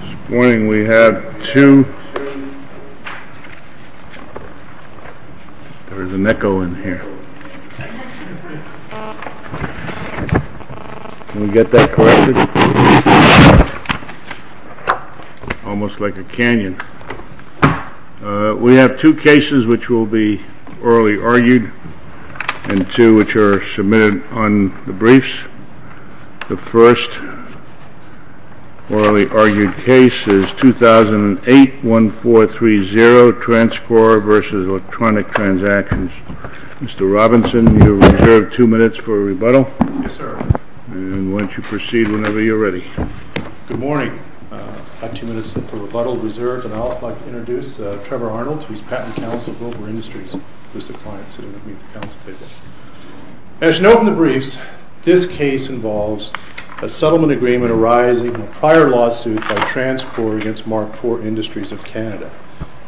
This morning we have two cases which will be orally argued and two which are submitted on the briefs. The first orally argued case is 2008-1430, Transcorp v. Electronic Transactions. Mr. Robinson, you are reserved two minutes for a rebuttal, and why don't you proceed whenever you're ready. Good morning. I have two minutes for rebuttal reserved, and I would like to introduce Trevor Arnold, who is Patent Counsel at Wilber Industries. As noted in the briefs, this case involves a settlement agreement arising in a prior lawsuit by Transcorp against Mark IV Industries of Canada.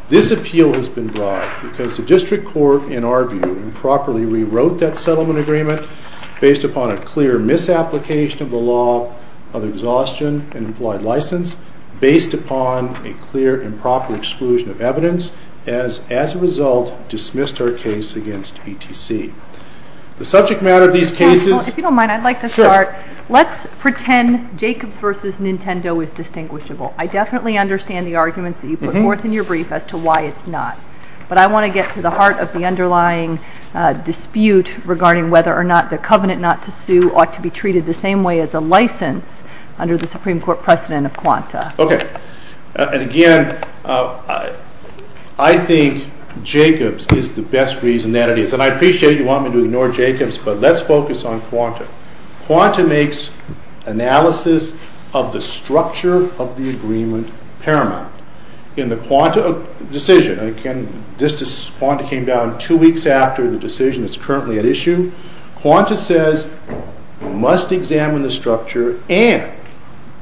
This appeal has been brought because the District Court, in our view, improperly rewrote that settlement agreement based upon a clear misapplication of the law of exhaustion and missed our case against BTC. The subject matter of these cases... If you don't mind, I'd like to start. Let's pretend Jacobs v. Nintendo is distinguishable. I definitely understand the arguments that you put forth in your brief as to why it's not. But I want to get to the heart of the underlying dispute regarding whether or not the covenant not to sue ought to be treated the same way as a license under the Supreme Court precedent of quanta. Okay. And again, I think Jacobs is the best reason that it is. And I appreciate you want me to ignore Jacobs, but let's focus on quanta. Quanta makes analysis of the structure of the agreement paramount. In the quanta decision, this quanta came down two weeks after the decision that's currently at issue. Quanta says you must examine the structure and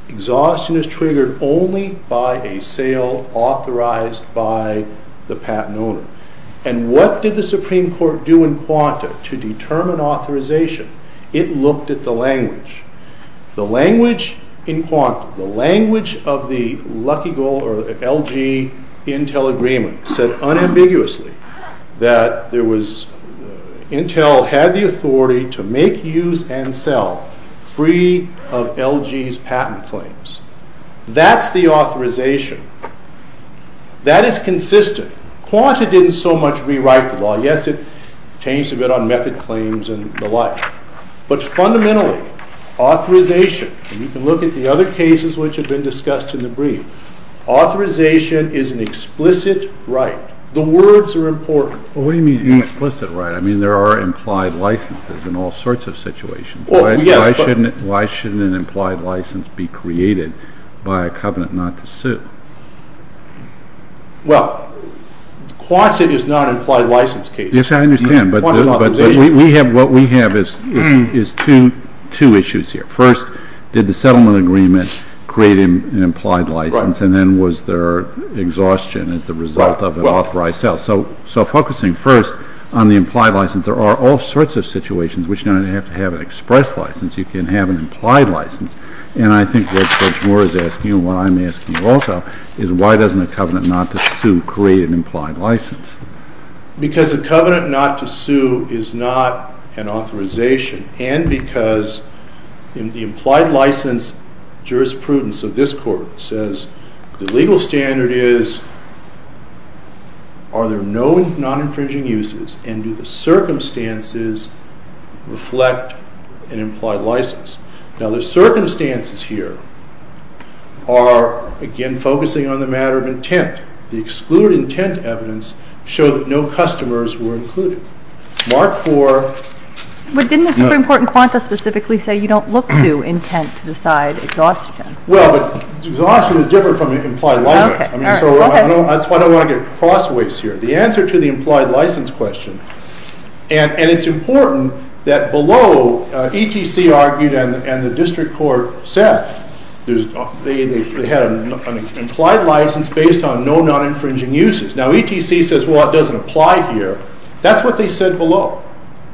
exhaustion is triggered only by a sale authorized by the patent owner. And what did the Supreme Court do in quanta to determine authorization? It looked at the language. The language in quanta, the language of the Lucky Goal or LG Intel agreement said unambiguously that Intel had the authority to make use and sell free of LG's patent claims. That's the authorization. That is consistent. Quanta didn't so much rewrite the law. Yes, it changed a bit on method claims and the like. But fundamentally, authorization, and you can look at the other cases which have been discussed in the brief, authorization is an explicit right. The words are important. What do you mean explicit right? I mean there are implied licenses in all sorts of situations. Why shouldn't an implied license be created by a covenant not to sue? Well, quanta is not an implied license case. Yes, I understand, but what we have is two issues here. First, did the settlement agreement create an implied license and then was there exhaustion as a result of an authorized sale? So focusing first on the implied license, there are all sorts of situations in which you don't have to have an express license. You can have an implied license and I think what Judge Moore is asking and what I'm asking also is why doesn't a covenant not to sue create an implied license? Because a covenant not to sue is not an authorization and because in the implied license jurisprudence of this court says the legal standard is are there no non-infringing uses and do the circumstances reflect an implied license? Now the circumstances here are again focusing on the matter of intent. The excluded intent evidence showed that no customers were included. Mark 4. But didn't the Supreme Court in quanta specifically say you don't look to intent to decide exhaustion? Well, but exhaustion is different from an implied license. I don't want to get cross ways here. The answer to the implied license question and it's important that below ETC argued and the district court said they had an implied license based on no non-infringing uses. Now ETC says well it doesn't apply here. That's what they said below.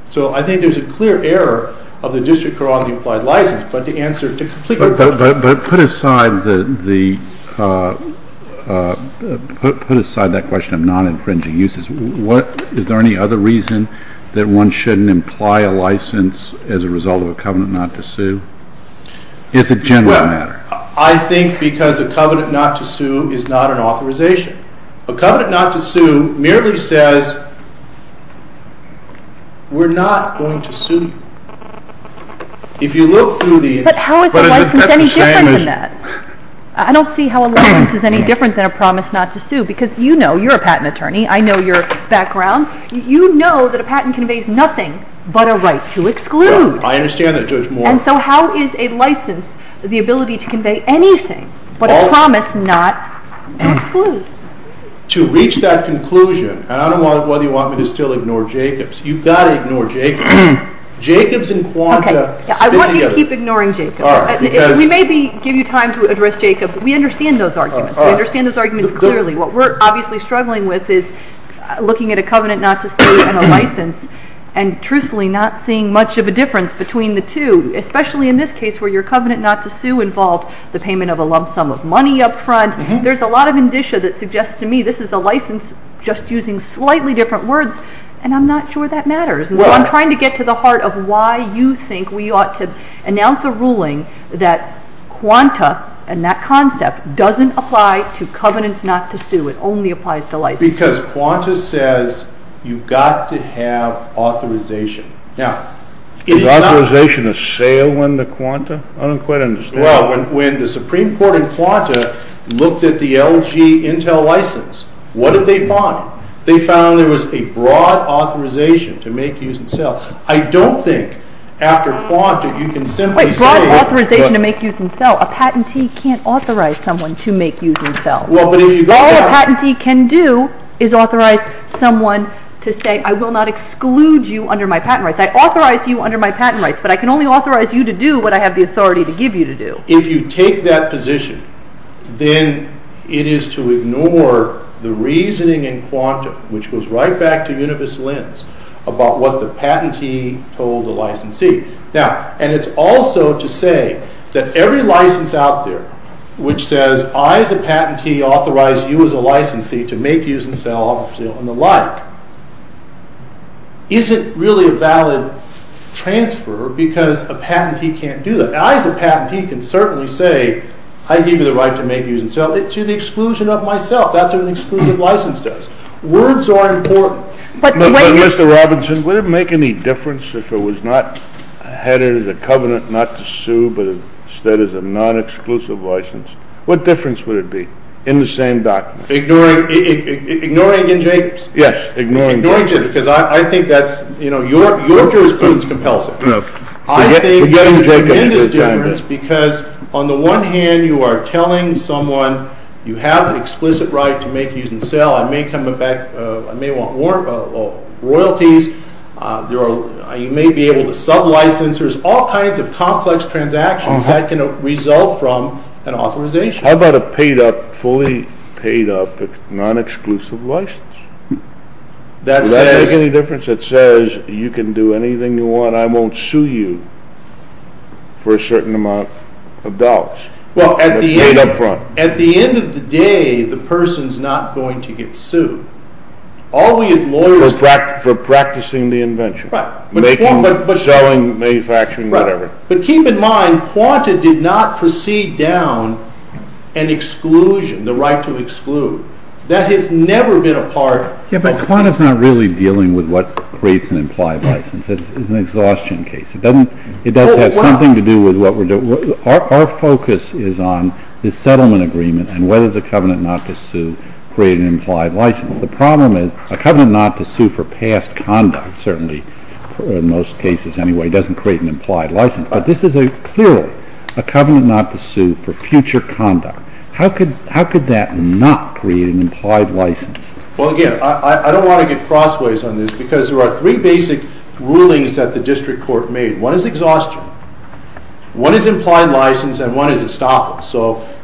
So I think there's a clear error of the district court on the implied license. But put aside that question of non-infringing uses. Is there any other reason that one shouldn't imply a license as a result of a covenant not to sue? It's a general matter. I think because a covenant not to sue is not an authorization. A covenant not to sue merely says we're not going to sue you. But how is a license any different than that? I don't see how a license is any different than a promise not to sue because you know you're a patent attorney. I know your background. You know that a patent conveys nothing but a right to exclude. I understand that Judge Moore. And so how is a license the ability to convey anything but a promise not to exclude? To reach that conclusion and I don't know whether you want me to still ignore Jacobs. You've got to ignore Jacobs. Jacobs and Quanda stick together. I want you to keep ignoring Jacobs. We may give you time to address Jacobs. We understand those arguments. We understand those arguments clearly. What we're obviously struggling with is looking at a covenant not to sue and a license and truthfully not seeing much of a difference between the two, especially in this case where your covenant not to sue involved the payment of a lump sum of money up front. There's a lot of indicia that suggests to me this is a license just using slightly different words and I'm not sure that matters. And so I'm trying to get to the heart of why you think we ought to announce a ruling that Quanda and that concept doesn't apply to covenants not to sue. It only applies to licenses. Because Quanda says you've got to have authorization. Is authorization a sale under Quanda? I don't quite understand. Well, when the Supreme Court in Quanda looked at the LG Intel license, what did they find? They found there was a broad authorization to make, use, and sell. I don't think after Quanda you can simply say- Wait, broad authorization to make, use, and sell. A patentee can't authorize someone to make, use, and sell. Well, but if you- All a patentee can do is authorize someone to say I will not exclude you under my patent rights. I authorize you under my patent rights, but I can only authorize you to do what I have the authority to give you to do. If you take that position, then it is to ignore the reasoning in Quanda, which goes right back to Univis Lens, about what the patentee told the licensee. Now, and it's also to say that every license out there which says I as a patentee authorize you as a licensee to make, use, and sell, and the like, isn't really a valid transfer because a patentee can't do that. I as a patentee can certainly say I give you the right to make, use, and sell to the exclusion of myself. That's what an exclusive license does. Words are important. Mr. Robinson, would it make any difference if it was not headed as a covenant not to sue, but instead as a non-exclusive license? What difference would it be in the same document? Ignoring Ian Jacobs? Yes, ignoring Jacobs. Because I think that's, you know, your jurisprudence compels it. I think there's a tremendous difference because on the one hand you are telling someone you have an explicit right to make, use, and sell. I may want royalties. You may be able to sub-license. There's all kinds of complex transactions that can result from an authorization. How about a paid up, fully paid up, non-exclusive license? Does that make any difference? It says you can do anything you want. I won't sue you for a certain amount of dollars. Well, at the end of the day, the person's not going to get sued. Always lawyers... For practicing the invention. Right. Making, selling, manufacturing, whatever. Right. But keep in mind, QANTA did not proceed down an exclusion, the right to exclude. That has never been a part... Yeah, but QANTA's not really dealing with what creates an implied license. It's an exhaustion case. It doesn't have something to do with what we're doing. Our focus is on the settlement agreement and whether the covenant not to sue created an implied license. The problem is a covenant not to sue for past conduct, certainly, in most cases anyway, doesn't create an implied license. But this is clearly a covenant not to sue for future conduct. How could that not create an implied license? Well, again, I don't want to get crossways on this because there are three basic rulings that the district court made. One is exhaustion, one is implied license, and one is estoppel.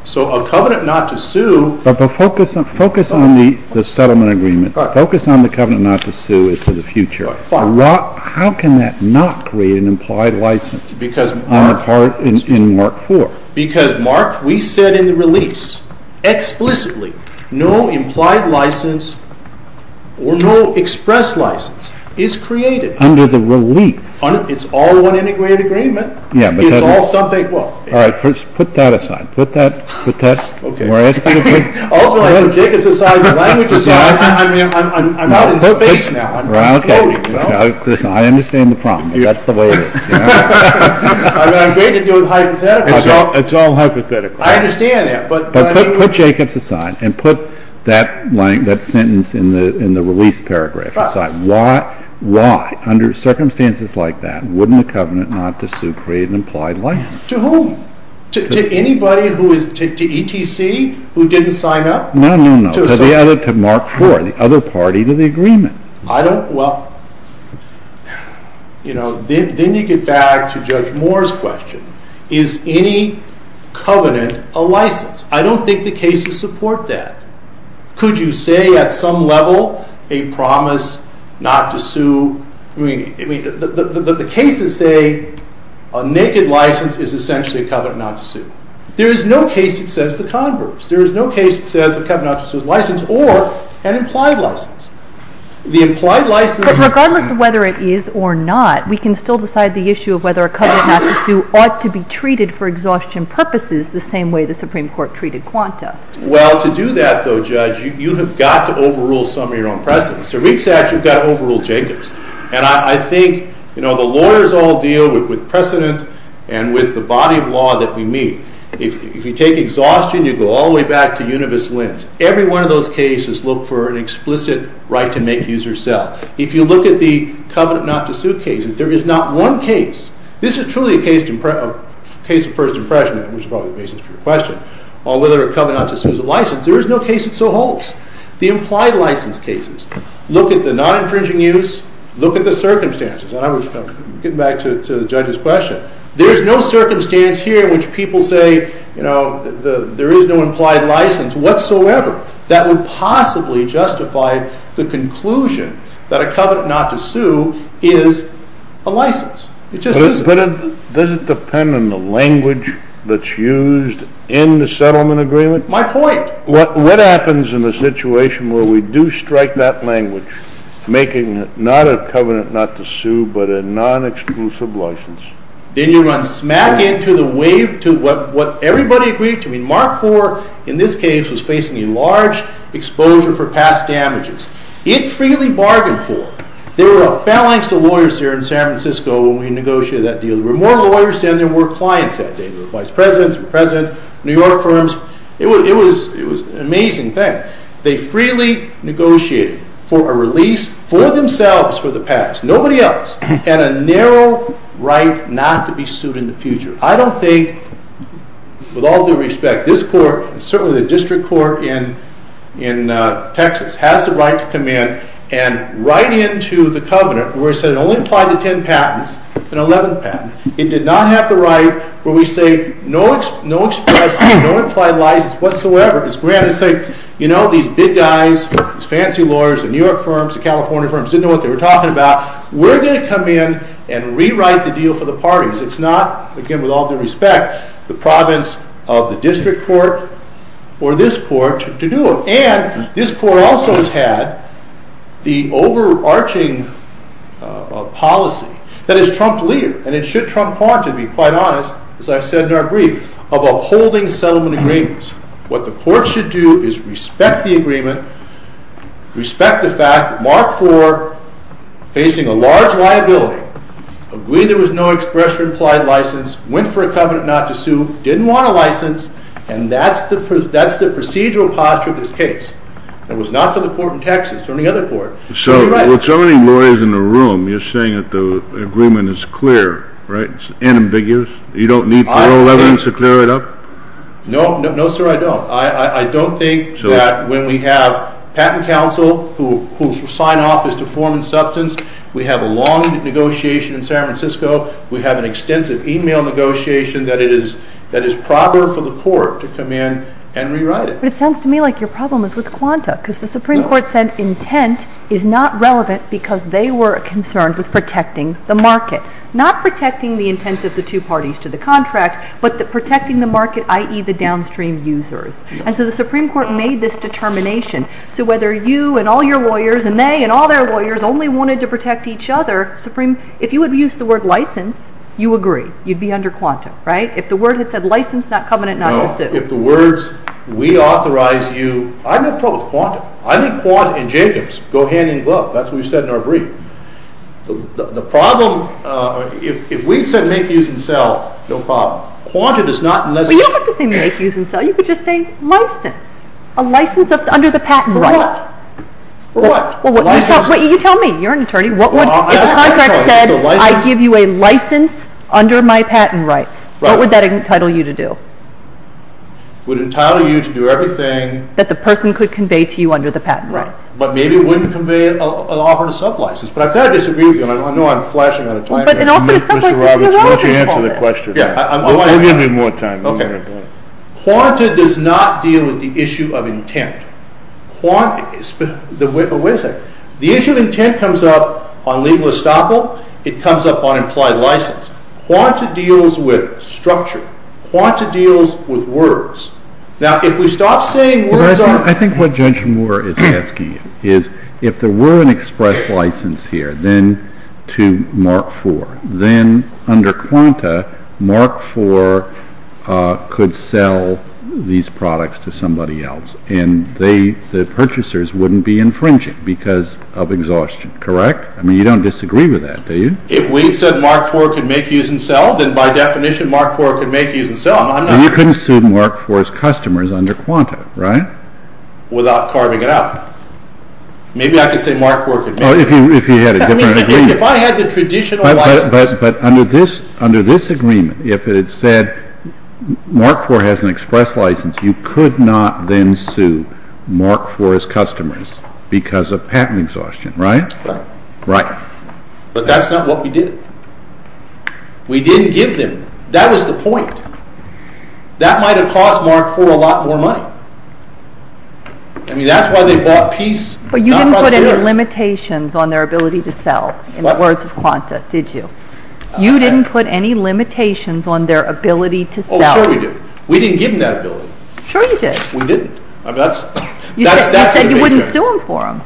So a covenant not to sue... But focus on the settlement agreement. Focus on the covenant not to sue is for the future. How can that not create an implied license on the part in Mark IV? Because, Mark, we said in the release, explicitly, no implied license or no express license is created. Under the relief. It's all one integrated agreement. It's all something... All right, put that aside. Put that... Ultimately, from Jacob's aside, the language aside, I'm not in space now. I'm floating. I understand the problem. That's the way it is. I'm great at doing hypotheticals. It's all hypothetical. I understand that. But put Jacob's aside and put that sentence in the release paragraph aside. Why, under circumstances like that, wouldn't a covenant not to sue create an implied license? To whom? To anybody who is... to ETC who didn't sign up? No, no, no. To Mark IV, the other party to the agreement. I don't... well... You know, then you get back to Judge Moore's question. Is any covenant a license? I don't think the cases support that. Could you say, at some level, a promise not to sue? I mean, the cases say a naked license is essentially a covenant not to sue. There is no case that says the converse. There is no case that says a covenant not to sue is a license or an implied license. The implied license... But regardless of whether it is or not, we can still decide the issue of whether a covenant not to sue ought to be treated for exhaustion purposes the same way the Supreme Court treated Quanta. Well, to do that, though, Judge, you have got to overrule some of your own precedents. To reach that, you've got to overrule Jacob's. And I think, you know, the lawyers all deal with precedent and with the body of law that we meet. If you take exhaustion, you go all the way back to Univis Lens. Every one of those cases look for an explicit right to make, use, or sell. If you look at the covenant not to sue cases, there is not one case. This is truly a case of first impression, which is probably the basis for your question. Whether a covenant not to sue is a license, there is no case that so holds. The implied license cases look at the non-infringing use, look at the circumstances. And I'm getting back to the judge's question. There is no circumstance here in which people say, you know, there is no implied license whatsoever that would possibly justify the conclusion that a covenant not to sue is a license. It just isn't. But does it depend on the language that's used in the settlement agreement? My point. What happens in a situation where we do strike that language, making it not a covenant not to sue but a non-exclusive license? Then you run smack into the wave to what everybody agreed to. I mean, Mark IV in this case was facing a large exposure for past damages. It freely bargained for. There were a phalanx of lawyers here in San Francisco when we negotiated that deal. There were more lawyers than there were clients that day. There were vice presidents, presidents, New York firms. It was an amazing thing. They freely negotiated for a release for themselves for the past. Nobody else had a narrow right not to be sued in the future. I don't think, with all due respect, this court and certainly the district court in Texas has the right to come in and write into the covenant where it said it only applied to 10 patents, an 11th patent. It did not have the right where we say no express, no implied license whatsoever. These big guys, these fancy lawyers, the New York firms, the California firms, didn't know what they were talking about. We're going to come in and rewrite the deal for the parties. It's not, again, with all due respect, the province of the district court or this court to do it. And this court also has had the overarching policy that is Trump-lead. And it should Trump-faunted, to be quite honest, as I said in our brief, of upholding settlement agreements. What the court should do is respect the agreement, respect the fact that Mark IV, facing a large liability, agreed there was no express or implied license, went for a covenant not to sue, didn't want a license, and that's the procedural posture of this case. It was not for the court in Texas or any other court. So, with so many lawyers in the room, you're saying that the agreement is clear, right? It's unambiguous? You don't need parole evidence to clear it up? No, sir, I don't. I don't think that when we have patent counsel who sign off as to form and substance, we have a long negotiation in San Francisco, we have an extensive email negotiation that is proper for the court to come in and rewrite it. But it sounds to me like your problem is with Quanta, because the Supreme Court said intent is not relevant because they were concerned with protecting the market. Not protecting the intent of the two parties to the contract, but protecting the market, i.e., the downstream users. And so the Supreme Court made this determination. So whether you and all your lawyers and they and all their lawyers only wanted to protect each other, Supreme, if you had used the word license, you agree, you'd be under Quanta, right? If the word had said license, not covenant, not to sue. No, if the words, we authorize you, I'm in trouble with Quanta. I think Quanta and Jacobs go hand in glove. That's what we said in our brief. The problem, if we said make, use, and sell, no problem. Quanta does not necessarily... You don't have to say make, use, and sell. You could just say license. A license under the patent rights. For what? You tell me. You're an attorney. If a contract said, I give you a license under my patent rights, what would that entitle you to do? Would entitle you to do everything... That the person could convey to you under the patent rights. But maybe it wouldn't convey an offer to sub-license. But I kind of disagree with you. I know I'm flashing out of time. Mr. Roberts, why don't you answer the question? Give me more time. Quanta does not deal with the issue of intent. The issue of intent comes up on legal estoppel. It comes up on implied license. Quanta deals with structure. Quanta deals with words. Now, if we stop saying words... I think what Judge Moore is asking is, if there were an express license here to Mark IV, then under Quanta, Mark IV could sell these products to somebody else. And the purchasers wouldn't be infringing because of exhaustion, correct? I mean, you don't disagree with that, do you? If we said Mark IV could make, use, and sell, then by definition, Mark IV could make, use, and sell. You couldn't sue Mark IV's customers under Quanta, right? Without carving it out. Maybe I could say Mark IV could make... If you had a different agreement. If I had the traditional license... But under this agreement, if it said Mark IV has an express license, you could not then sue Mark IV's customers because of patent exhaustion, right? Right. But that's not what we did. We didn't give them. That was the point. That might have cost Mark IV a lot more money. I mean, that's why they bought Peace, not Custodian. But you didn't put any limitations on their ability to sell, in the words of Quanta, did you? You didn't put any limitations on their ability to sell. Oh, sure we did. We didn't give them that ability. Sure you did. We didn't. You said you wouldn't sue them for them.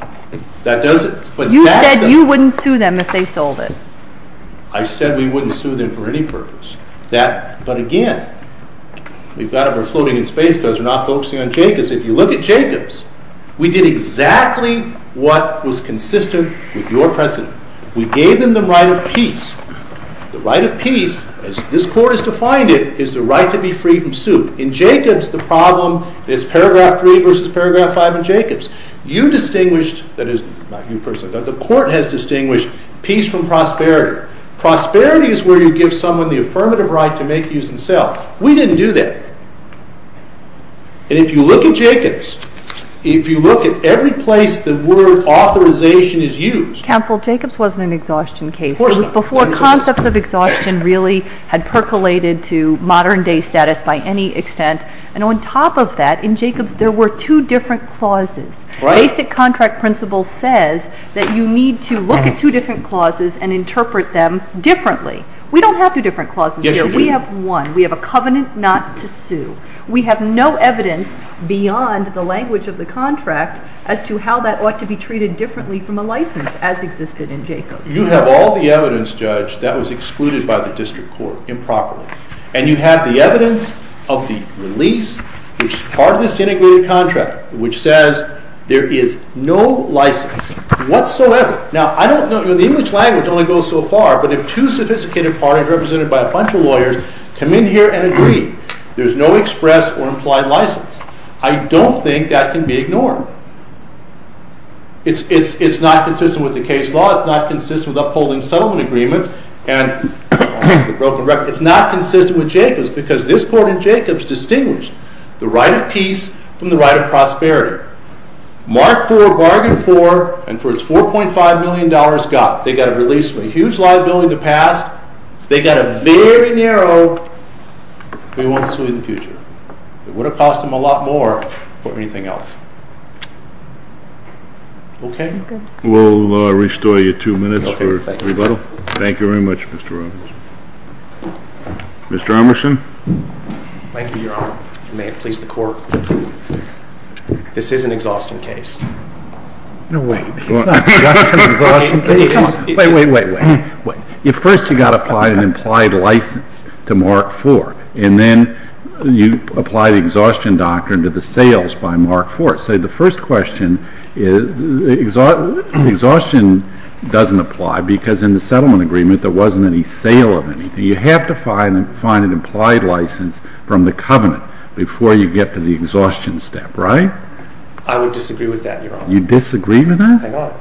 That doesn't. You said you wouldn't sue them if they sold it. I said we wouldn't sue them for any purpose. But again, we've got to be floating in space because we're not focusing on Jacobs. If you look at Jacobs, we did exactly what was consistent with your precedent. We gave them the right of Peace. The right of Peace, as this Court has defined it, is the right to be free from suit. You distinguished, not you personally, but the Court has distinguished Peace from prosperity. Prosperity is where you give someone the affirmative right to make, use, and sell. We didn't do that. And if you look at Jacobs, if you look at every place the word authorization is used. Counsel, Jacobs wasn't an exhaustion case. Of course not. It was before concepts of exhaustion really had percolated to modern-day status by any extent. And on top of that, in Jacobs there were two different clauses. Basic contract principle says that you need to look at two different clauses and interpret them differently. We don't have two different clauses here. We have one. We have a covenant not to sue. We have no evidence beyond the language of the contract as to how that ought to be treated differently from a license as existed in Jacobs. You have all the evidence, Judge, that was excluded by the District Court improperly. And you have the evidence of the release, which is part of this integrated contract, which says there is no license whatsoever. Now, I don't know. The English language only goes so far. But if two sophisticated parties represented by a bunch of lawyers come in here and agree, there's no express or implied license. I don't think that can be ignored. It's not consistent with the case law. It's not consistent with upholding settlement agreements and broken records. But it's not consistent with Jacobs because this court in Jacobs distinguished the right of peace from the right of prosperity. Mark Ford bargained for, and for its $4.5 million got, they got a release from a huge liability in the past. They got a very narrow, we won't sue in the future. It would have cost them a lot more for anything else. Okay? We'll restore your two minutes for rebuttal. Thank you very much, Mr. Robins. Mr. Emerson. Thank you, Your Honor. May it please the Court. This is an exhaustion case. No, wait. It's not an exhaustion case. It is. Wait, wait, wait, wait. First you've got to apply an implied license to Mark Ford. And then you apply the exhaustion doctrine to the sales by Mark Ford. So the first question is exhaustion doesn't apply because in the settlement agreement there wasn't any sale of anything. You have to find an implied license from the covenant before you get to the exhaustion step. Right? I would disagree with that, Your Honor. You disagree with that? Thank God.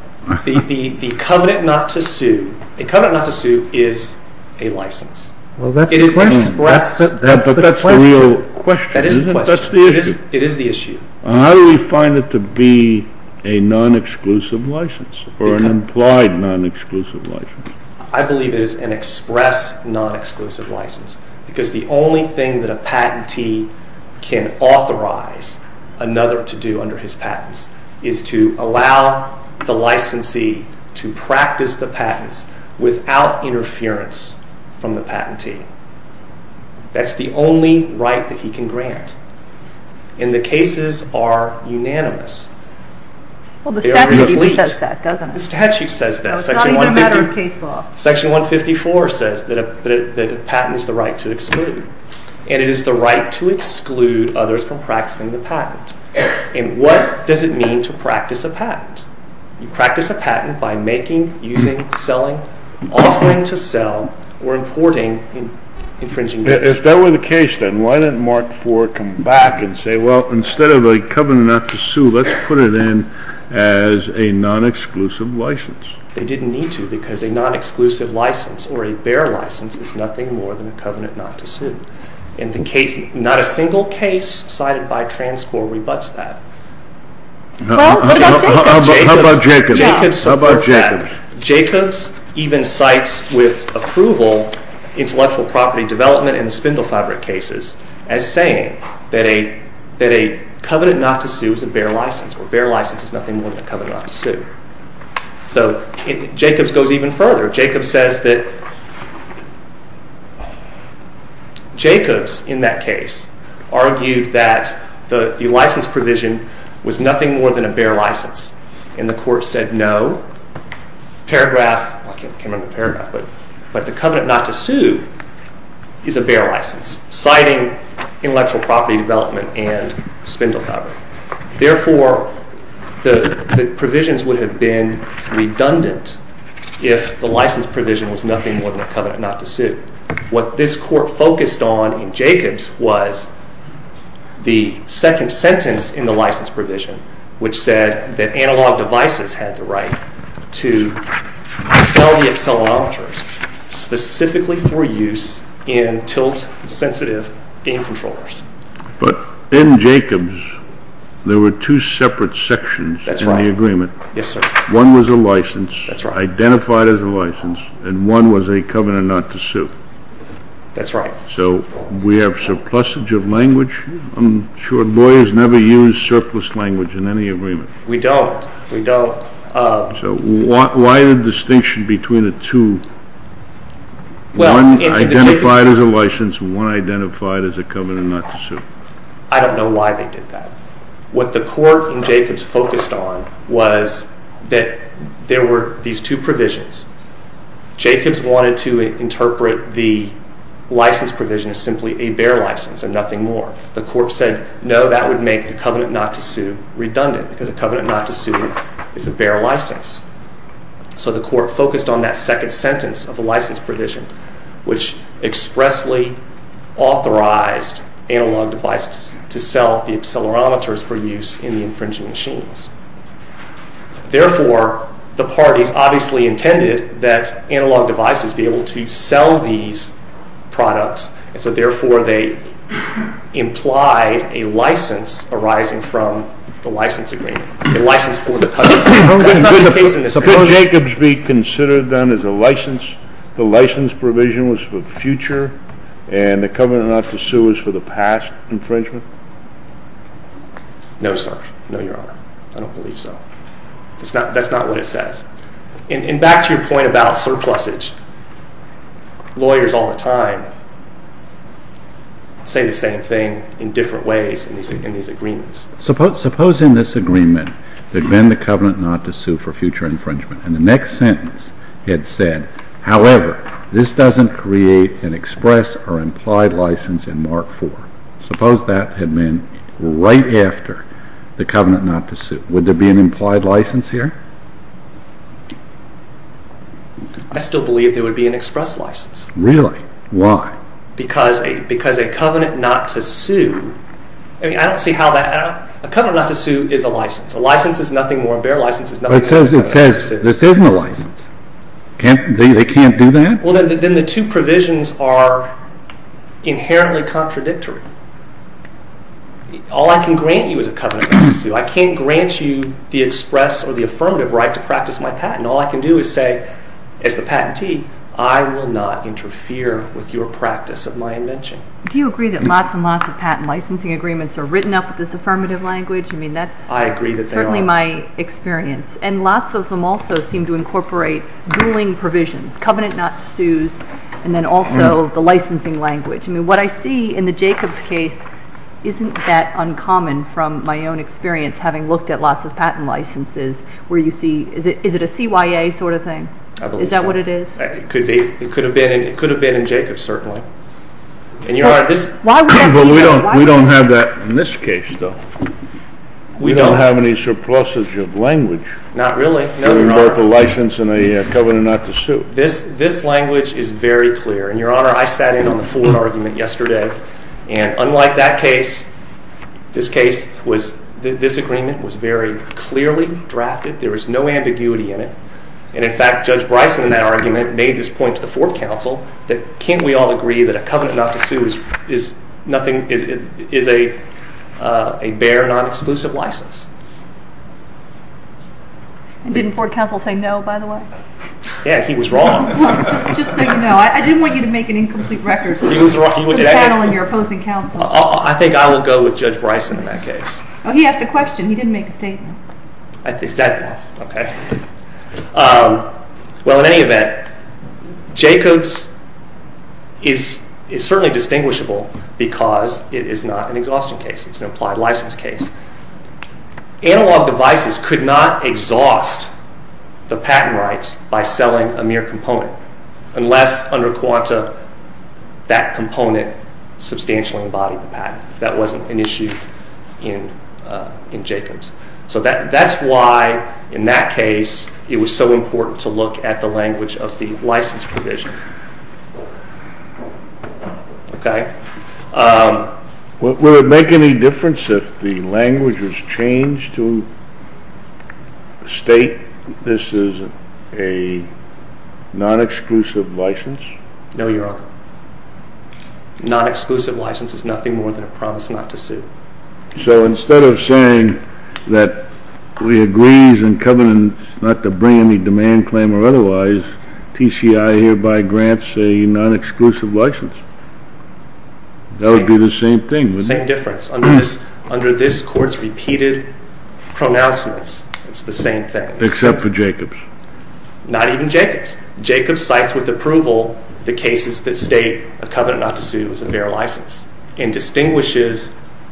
The covenant not to sue, a covenant not to sue is a license. Well, that's the question. It is expressed. But that's the real question, isn't it? That is the question. That's the issue. How do we find it to be a non-exclusive license or an implied non-exclusive license? I believe it is an express non-exclusive license because the only thing that a patentee can authorize another to do under his patents is to allow the licensee to practice the patents without interference from the patentee. That's the only right that he can grant. And the cases are unanimous. Well, the statute says that, doesn't it? The statute says that. It's not even a matter of case law. Section 154 says that a patent is the right to exclude. And it is the right to exclude others from practicing the patent. And what does it mean to practice a patent? You practice a patent by making, using, selling, offering to sell, or importing infringing goods. If that were the case, then, why didn't Mark Ford come back and say, well, instead of a covenant not to sue, let's put it in as a non-exclusive license? They didn't need to because a non-exclusive license or a bare license is nothing more than a covenant not to sue. And the case, not a single case cited by Transcorp rebuts that. Well, what about Jacobs? Jacobs supports that. How about Jacobs? In the Spindle Fabric cases, as saying that a covenant not to sue is a bare license, or a bare license is nothing more than a covenant not to sue. So, Jacobs goes even further. Jacobs says that, Jacobs, in that case, argued that the license provision was nothing more than a bare license. And the court said no. Paragraph, I can't remember the paragraph, but the covenant not to sue is a bare license, citing intellectual property development and Spindle Fabric. Therefore, the provisions would have been redundant if the license provision was nothing more than a covenant not to sue. What this court focused on in Jacobs was the second sentence in the license provision, which said that analog devices had the right to sell the accelerometers specifically for use in tilt-sensitive game controllers. But in Jacobs, there were two separate sections in the agreement. Yes, sir. One was a license, identified as a license, and one was a covenant not to sue. That's right. So, we have surplusage of language? I'm sure lawyers never use surplus language in any agreement. We don't. We don't. So, why the distinction between the two? One identified as a license, and one identified as a covenant not to sue. I don't know why they did that. What the court in Jacobs focused on was that there were these two provisions. Jacobs wanted to interpret the license provision as simply a bare license and nothing more. The court said, no, that would make the covenant not to sue redundant, because a covenant not to sue is a bare license. So, the court focused on that second sentence of the license provision, which expressly authorized analog devices to sell the accelerometers for use in the infringing machines. Therefore, the parties obviously intended that analog devices be able to sell these products, and so, therefore, they implied a license arising from the license agreement, a license for the cousins. That's not the case in this case. Suppose Jacobs reconsidered them as a license, the license provision was for future, and the covenant not to sue was for the past infringement? No, sir. No, Your Honor. I don't believe so. That's not what it says. And back to your point about surplusage. Lawyers all the time say the same thing in different ways in these agreements. Suppose in this agreement there had been the covenant not to sue for future infringement, and the next sentence had said, however, this doesn't create an express or implied license in Mark 4. Suppose that had been right after the covenant not to sue. Would there be an implied license here? I still believe there would be an express license. Really? Why? Because a covenant not to sue, I mean, I don't see how that, a covenant not to sue is a license. A license is nothing more, a bare license is nothing more than a license to sue. But it says this isn't a license. They can't do that? Well, then the two provisions are inherently contradictory. All I can grant you is a covenant not to sue. I can't grant you the express or the affirmative right to practice my patent. All I can do is say, as the patentee, I will not interfere with your practice of my invention. Do you agree that lots and lots of patent licensing agreements are written up with this affirmative language? I agree that they are. That's certainly my experience. And lots of them also seem to incorporate ruling provisions. Covenant not to sue, and then also the licensing language. I mean, what I see in the Jacobs case isn't that uncommon from my own experience, having looked at lots of patent licenses, where you see, is it a CYA sort of thing? I believe so. Is that what it is? It could have been in Jacobs, certainly. Well, we don't have that in this case, though. We don't have any surpluses of language. Not really. We have a license and a covenant not to sue. This language is very clear. And, Your Honor, I sat in on the Ford argument yesterday, and unlike that case, this agreement was very clearly drafted. There was no ambiguity in it. And, in fact, Judge Bryson in that argument made this point to the Ford counsel, that can't we all agree that a covenant not to sue is a bare, non-exclusive license? And didn't Ford counsel say no, by the way? Yeah, he was wrong. Well, just so you know, I didn't want you to make an incomplete record. He was wrong. I think I will go with Judge Bryson in that case. He asked a question. He didn't make a statement. Is that enough? Okay. Well, in any event, Jacobs is certainly distinguishable because it is not an exhaustion case. It's an implied license case. Analog devices could not exhaust the patent rights by selling a mere component unless, under Quanta, that component substantially embodied the patent. That wasn't an issue in Jacobs. So that's why, in that case, it was so important to look at the language of the license provision. Okay. Would it make any difference if the language was changed to state this is a non-exclusive license? No, Your Honor. A non-exclusive license is nothing more than a promise not to sue. So instead of saying that we agree as in covenant not to bring any demand, claim, or otherwise, TCI hereby grants a non-exclusive license. That would be the same thing. The same difference. Under this Court's repeated pronouncements, it's the same thing. Except for Jacobs. Not even Jacobs. Jacobs cites with approval the cases that state a covenant not to sue is a bare license and distinguishes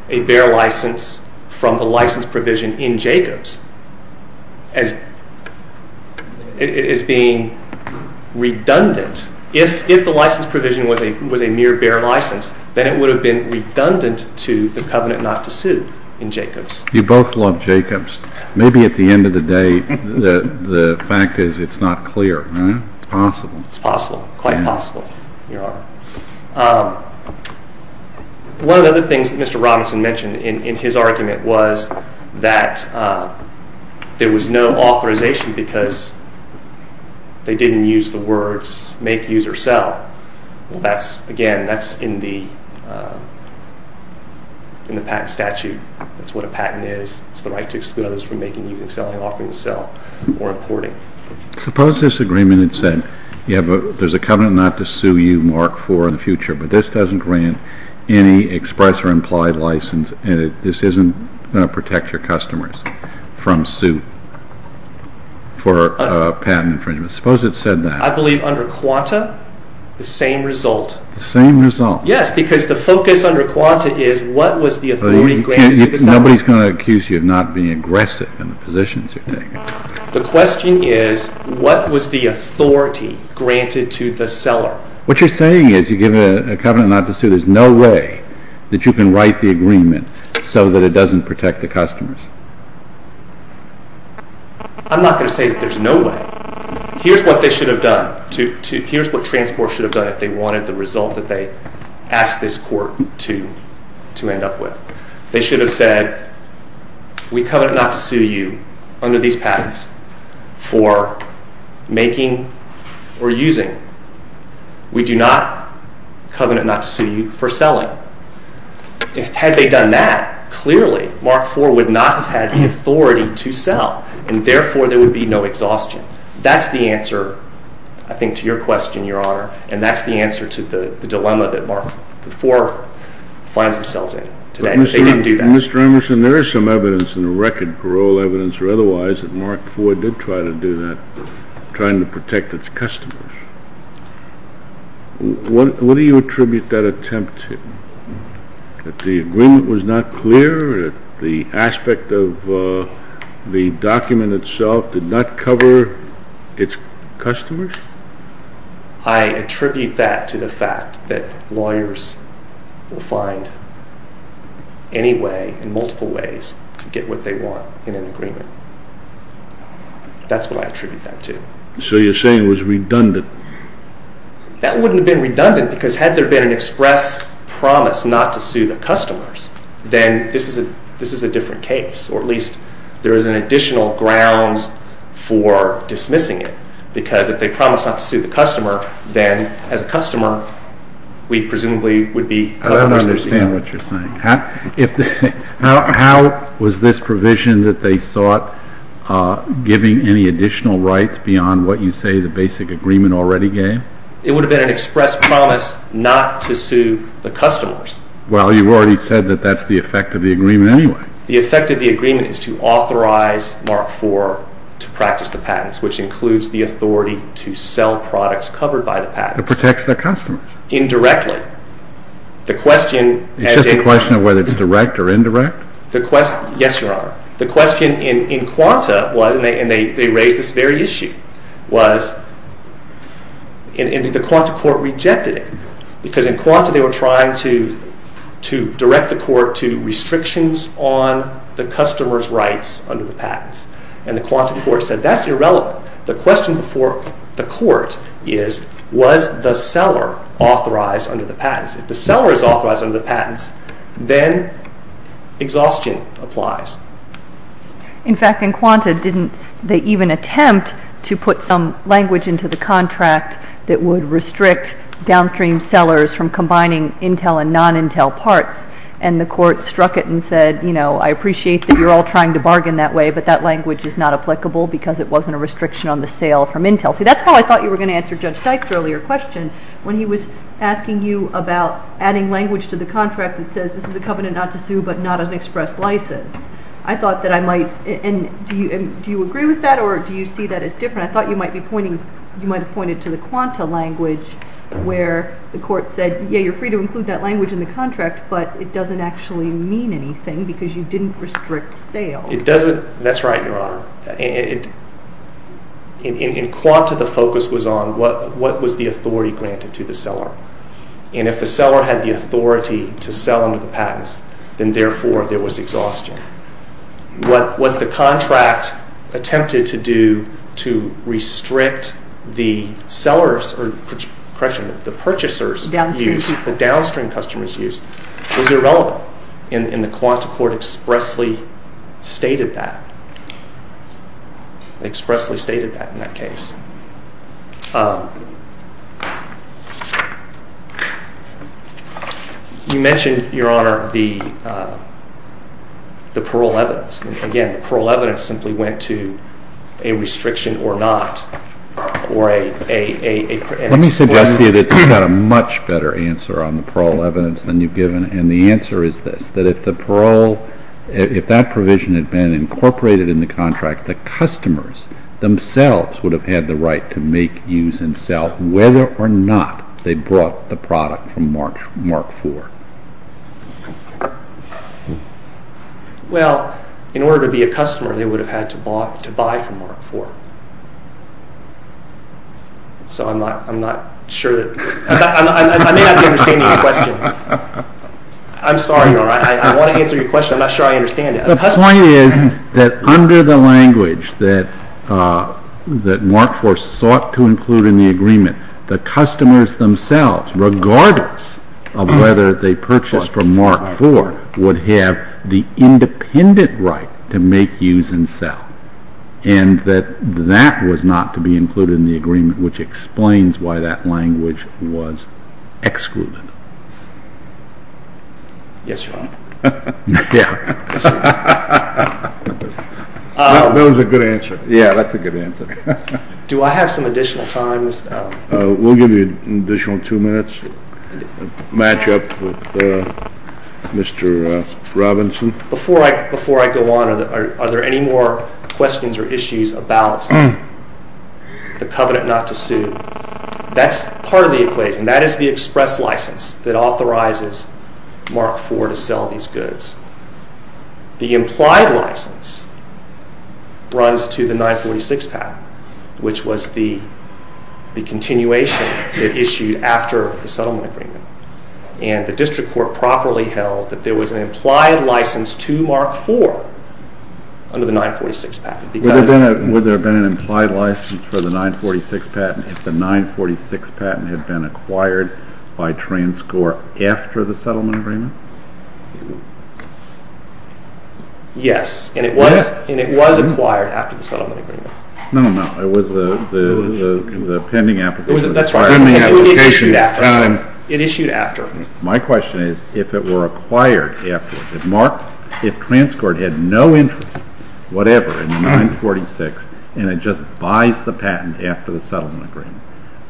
a bare license from the license provision in Jacobs as being redundant. If the license provision was a mere bare license, then it would have been redundant to the covenant not to sue in Jacobs. You both love Jacobs. Maybe at the end of the day, the fact is it's not clear. It's possible. Quite possible, Your Honor. One of the other things that Mr. Robinson mentioned in his argument was that there was no authorization because they didn't use the words make, use, or sell. Again, that's in the patent statute. That's what a patent is. It's the right to exclude others from making, using, selling, offering to sell, or importing. Suppose this agreement had said, there's a covenant not to sue you mark 4 in the future, but this doesn't grant any express or implied license, and this isn't going to protect your customers from suit for patent infringement. Suppose it said that. I believe under Quanta, the same result. The same result. Yes, because the focus under Quanta is what was the authority granted to decide. Nobody's going to accuse you of not being aggressive in the positions you're taking. The question is, what was the authority granted to the seller? What you're saying is you give a covenant not to sue. There's no way that you can write the agreement so that it doesn't protect the customers. I'm not going to say there's no way. Here's what they should have done. Here's what Transport should have done if they wanted the result that they asked this court to end up with. They should have said, we covenant not to sue you under these patents for making or using. We do not covenant not to sue you for selling. Had they done that, clearly mark 4 would not have had the authority to sell, and therefore there would be no exhaustion. That's the answer, I think, to your question, Your Honor, and that's the answer to the dilemma that mark 4 finds themselves in today. They didn't do that. Mr. Emerson, there is some evidence in the record, parole evidence or otherwise, that mark 4 did try to do that, trying to protect its customers. What do you attribute that attempt to? That the agreement was not clear? That the aspect of the document itself did not cover its customers? I attribute that to the fact that lawyers will find any way, in multiple ways, to get what they want in an agreement. That's what I attribute that to. So you're saying it was redundant? That wouldn't have been redundant because had there been an express promise not to sue the customers, then this is a different case, or at least there is an additional grounds for dismissing it because if they promise not to sue the customer, then as a customer, we presumably would be covered most of the time. I don't understand what you're saying. How was this provision that they sought giving any additional rights beyond what you say the basic agreement already gave? It would have been an express promise not to sue the customers. Well, you've already said that that's the effect of the agreement anyway. The effect of the agreement is to authorize mark 4 to practice the patents, which includes the authority to sell products covered by the patents. It protects the customers? Indirectly. It's just a question of whether it's direct or indirect? Yes, Your Honor. The question in Quanta was, and they raised this very issue, was the Quanta court rejected it because in Quanta they were trying to direct the court to restrictions on the customer's rights under the patents. And the Quanta court said, that's irrelevant. The question before the court is, was the seller authorized under the patents? If the seller is authorized under the patents, then exhaustion applies. In fact, in Quanta, didn't they even attempt to put some language into the contract that would restrict downstream sellers from combining Intel and non-Intel parts? And the court struck it and said, I appreciate that you're all trying to bargain that way, but that language is not applicable because it wasn't a restriction on the sale from Intel. See, that's why I thought you were going to answer Judge Dykes' earlier question. When he was asking you about adding language to the contract that says, this is a covenant not to sue, but not an express license. I thought that I might, and do you agree with that or do you see that as different? I thought you might be pointing, you might have pointed to the Quanta language where the court said, yeah, you're free to include that language in the contract, but it doesn't actually mean anything because you didn't restrict sale. That's right, Your Honor. In Quanta, the focus was on what was the authority granted to the seller. And if the seller had the authority to sell under the patents, then therefore there was exhaustion. What the contract attempted to do to restrict the sellers, or correction, the purchasers used, the downstream customers used, was irrelevant. And the Quanta court expressly stated that, expressly stated that in that case. You mentioned, Your Honor, the parole evidence. Again, the parole evidence simply went to a restriction or not, or an exclusion. Let me suggest to you that you've got a much better answer on the parole evidence than you've given, and the answer is this, that if the parole, if that provision had been incorporated in the contract, the customers themselves would have had the right to make, use, and sell, whether or not they brought the product from Mark IV. Well, in order to be a customer, they would have had to buy from Mark IV. So I'm not sure that, I may not be understanding your question. I'm sorry, Your Honor, I want to answer your question, I'm not sure I understand it. The point is that under the language that Mark IV sought to include in the agreement, the customers themselves, regardless of whether they purchased from Mark IV, would have the independent right to make, use, and sell. And that that was not to be included in the agreement, which explains why that language was excluded. Yes, Your Honor. Yeah. That was a good answer. Yeah, that's a good answer. Do I have some additional time? We'll give you an additional two minutes to match up with Mr. Robinson. Before I go on, are there any more questions or issues about the covenant not to sue? That's part of the equation. That is the express license that authorizes Mark IV to sell these goods. The implied license runs to the 946 patent, which was the continuation it issued after the settlement agreement. And the district court properly held that there was an implied license to Mark IV under the 946 patent. Would there have been an implied license for the 946 patent if the 946 patent had been acquired by Transcor after the settlement agreement? Yes, and it was acquired after the settlement agreement. No, no, no, it was the pending application. It issued after. My question is if it were acquired afterwards, if Transcor had no interest whatever in the 946 and it just buys the patent after the settlement agreement,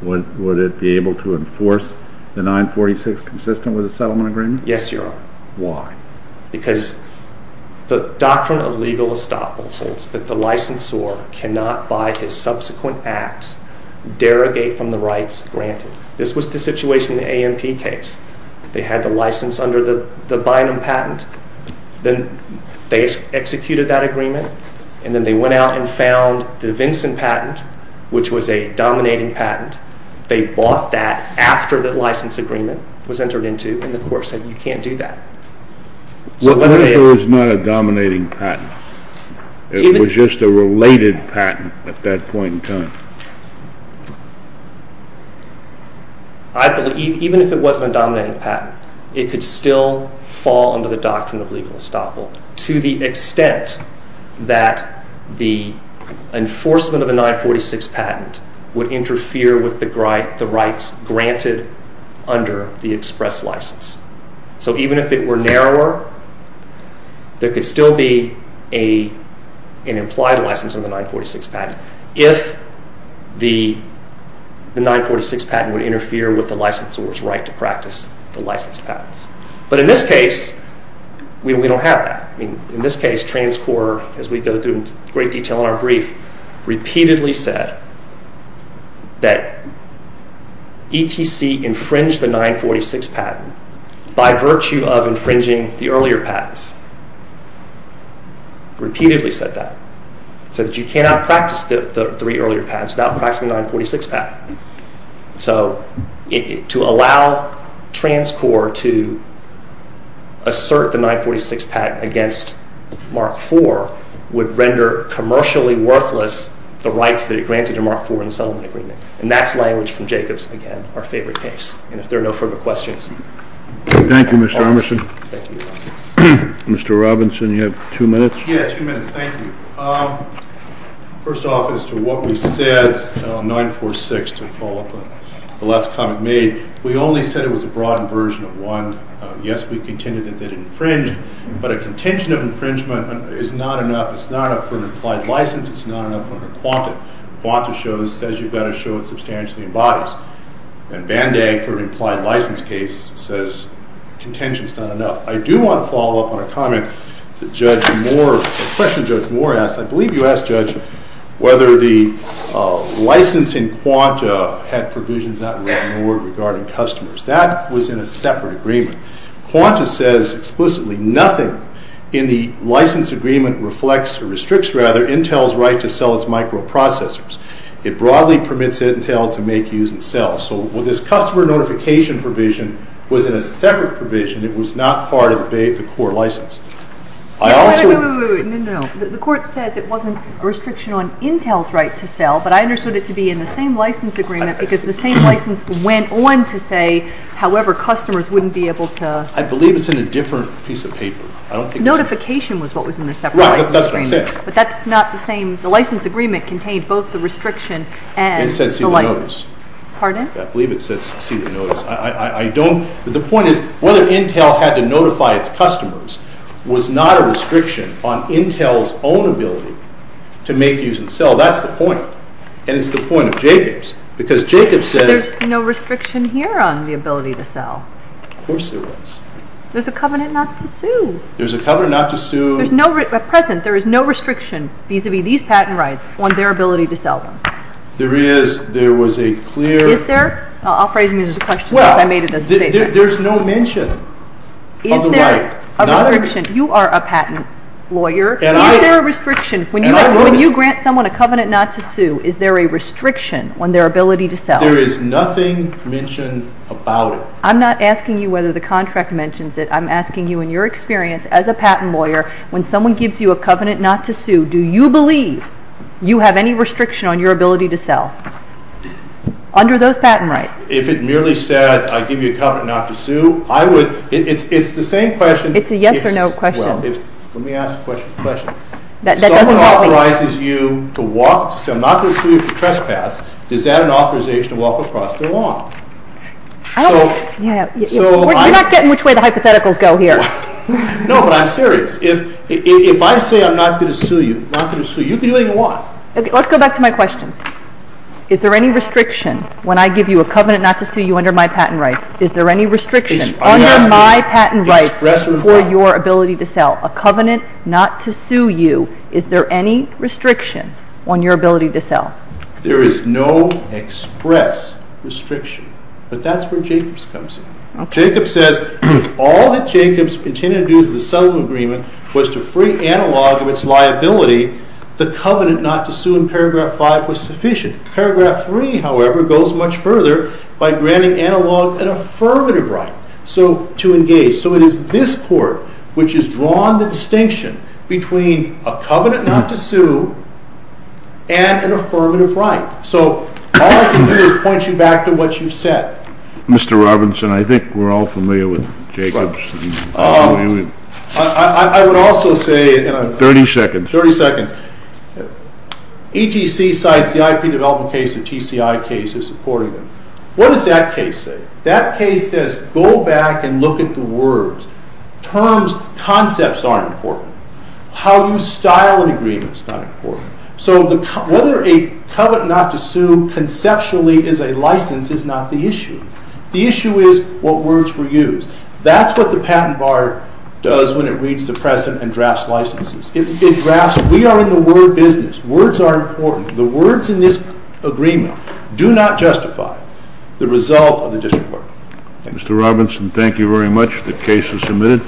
would it be able to enforce the 946 consistent with the settlement agreement? Yes, Your Honor. Why? Because the doctrine of legal estoppel holds that the licensor cannot, by his subsequent acts, derogate from the rights granted. This was the situation in the A.M.P. case. They had the license under the Bynum patent, then they executed that agreement, and then they went out and found the Vinson patent, which was a dominating patent. They bought that after the license agreement was entered into, and the court said you can't do that. What if it was not a dominating patent? It was just a related patent at that point in time. Even if it wasn't a dominating patent, it could still fall under the doctrine of legal estoppel to the extent that the enforcement of the 946 patent would interfere with the rights granted under the express license. So even if it were narrower, there could still be an implied license under the 946 patent if the 946 patent would interfere with the licensor's right to practice the licensed patents. But in this case, we don't have that. In this case, TransCorp, as we go through in great detail in our brief, repeatedly said that ETC infringed the 946 patent by virtue of infringing the earlier patents. Repeatedly said that. It said that you cannot practice the three earlier patents without practicing the 946 patent. So to allow TransCorp to assert the 946 patent against Mark IV would render commercially worthless the rights that it granted to Mark IV in the settlement agreement. And that's language from Jacobs, again, our favorite case. And if there are no further questions... Thank you, Mr. Armisen. Mr. Robinson, you have two minutes. Yeah, two minutes. Thank you. First off, as to what we said on 946 to follow up on the last comment made, we only said it was a broadened version of one. Yes, we contended that it infringed, but a contention of infringement is not enough. It's not enough for an implied license. It's not enough for a quanta. A quanta says you've got to show it substantially embodies. And Van Dyck, for an implied license case, says contention's not enough. I do want to follow up on a comment that Judge Moore... a question Judge Moore asked. I believe you asked, Judge, whether the license in quanta had provisions not written in the word regarding customers. That was in a separate agreement. Quanta says explicitly nothing in the license agreement restricts Intel's right to sell its microprocessors. It broadly permits Intel to make, use, and sell. So this customer notification provision was in a separate provision. It was not part of the core license. I also... No, no, no. The court says it wasn't a restriction on Intel's right to sell, but I understood it to be in the same license agreement because the same license went on to say, however, customers wouldn't be able to... I believe it's in a different piece of paper. Notification was what was in the separate license agreement. Right, that's what I'm saying. But that's not the same... The license agreement contained both the restriction and... It says see the notice. Pardon? I believe it says see the notice. I don't... But the point is whether Intel had to notify its customers was not a restriction on Intel's own ability to make, use, and sell. That's the point. And it's the point of Jacob's because Jacob says... There's no restriction here on the ability to sell. Of course there was. There's a covenant not to sue. There's a covenant not to sue. At present, there is no restriction vis-a-vis these patent rights on their ability to sell them. There is. There was a clear... Is there? I'll phrase it as a question because I made it as a statement. There's no mention of the right. Is there a restriction? You are a patent lawyer. Is there a restriction? When you grant someone a covenant not to sue, is there a restriction on their ability to sell? There is nothing mentioned about it. I'm not asking you whether the contract mentions it. I'm asking you, in your experience as a patent lawyer, when someone gives you a covenant not to sue, do you believe you have any restriction on your ability to sell under those patent rights? If it merely said I give you a covenant not to sue, I would... It's the same question. It's a yes or no question. Well, let me ask a question. If someone authorizes you to walk, to sell, not to sue for trespass, is that an authorization to walk across the law? I don't know. We're not getting which way the hypotheticals go here. No, but I'm serious. If I say I'm not going to sue you, you can do anything you want. Let's go back to my question. Is there any restriction when I give you a covenant not to sue you under my patent rights? Is there any restriction under my patent rights for your ability to sell? A covenant not to sue you, is there any restriction on your ability to sell? There is no express restriction. But that's where Jacobs comes in. Jacobs says if all that Jacobs intended to do to the settlement agreement was to free Analog of its liability, the covenant not to sue in paragraph 5 was sufficient. Paragraph 3, however, goes much further by granting Analog an affirmative right to engage. So it is this court which has drawn the distinction between a covenant not to sue and an affirmative right. So all I can do is point you back to what you've said. Mr. Robinson, I think we're all familiar with Jacobs. I would also say... 30 seconds. 30 seconds. ETC cites the IP development case, the TCI case as supporting them. What does that case say? That case says go back and look at the words. Terms, concepts aren't important. How you style an agreement is not important. So whether a covenant not to sue conceptually is a license is not the issue. The issue is what words were used. That's what the patent bar does when it reads the precedent and drafts licenses. It drafts. We are in the word business. Words are important. The words in this agreement do not justify the result of the district court. Mr. Robinson, thank you very much. The case is submitted.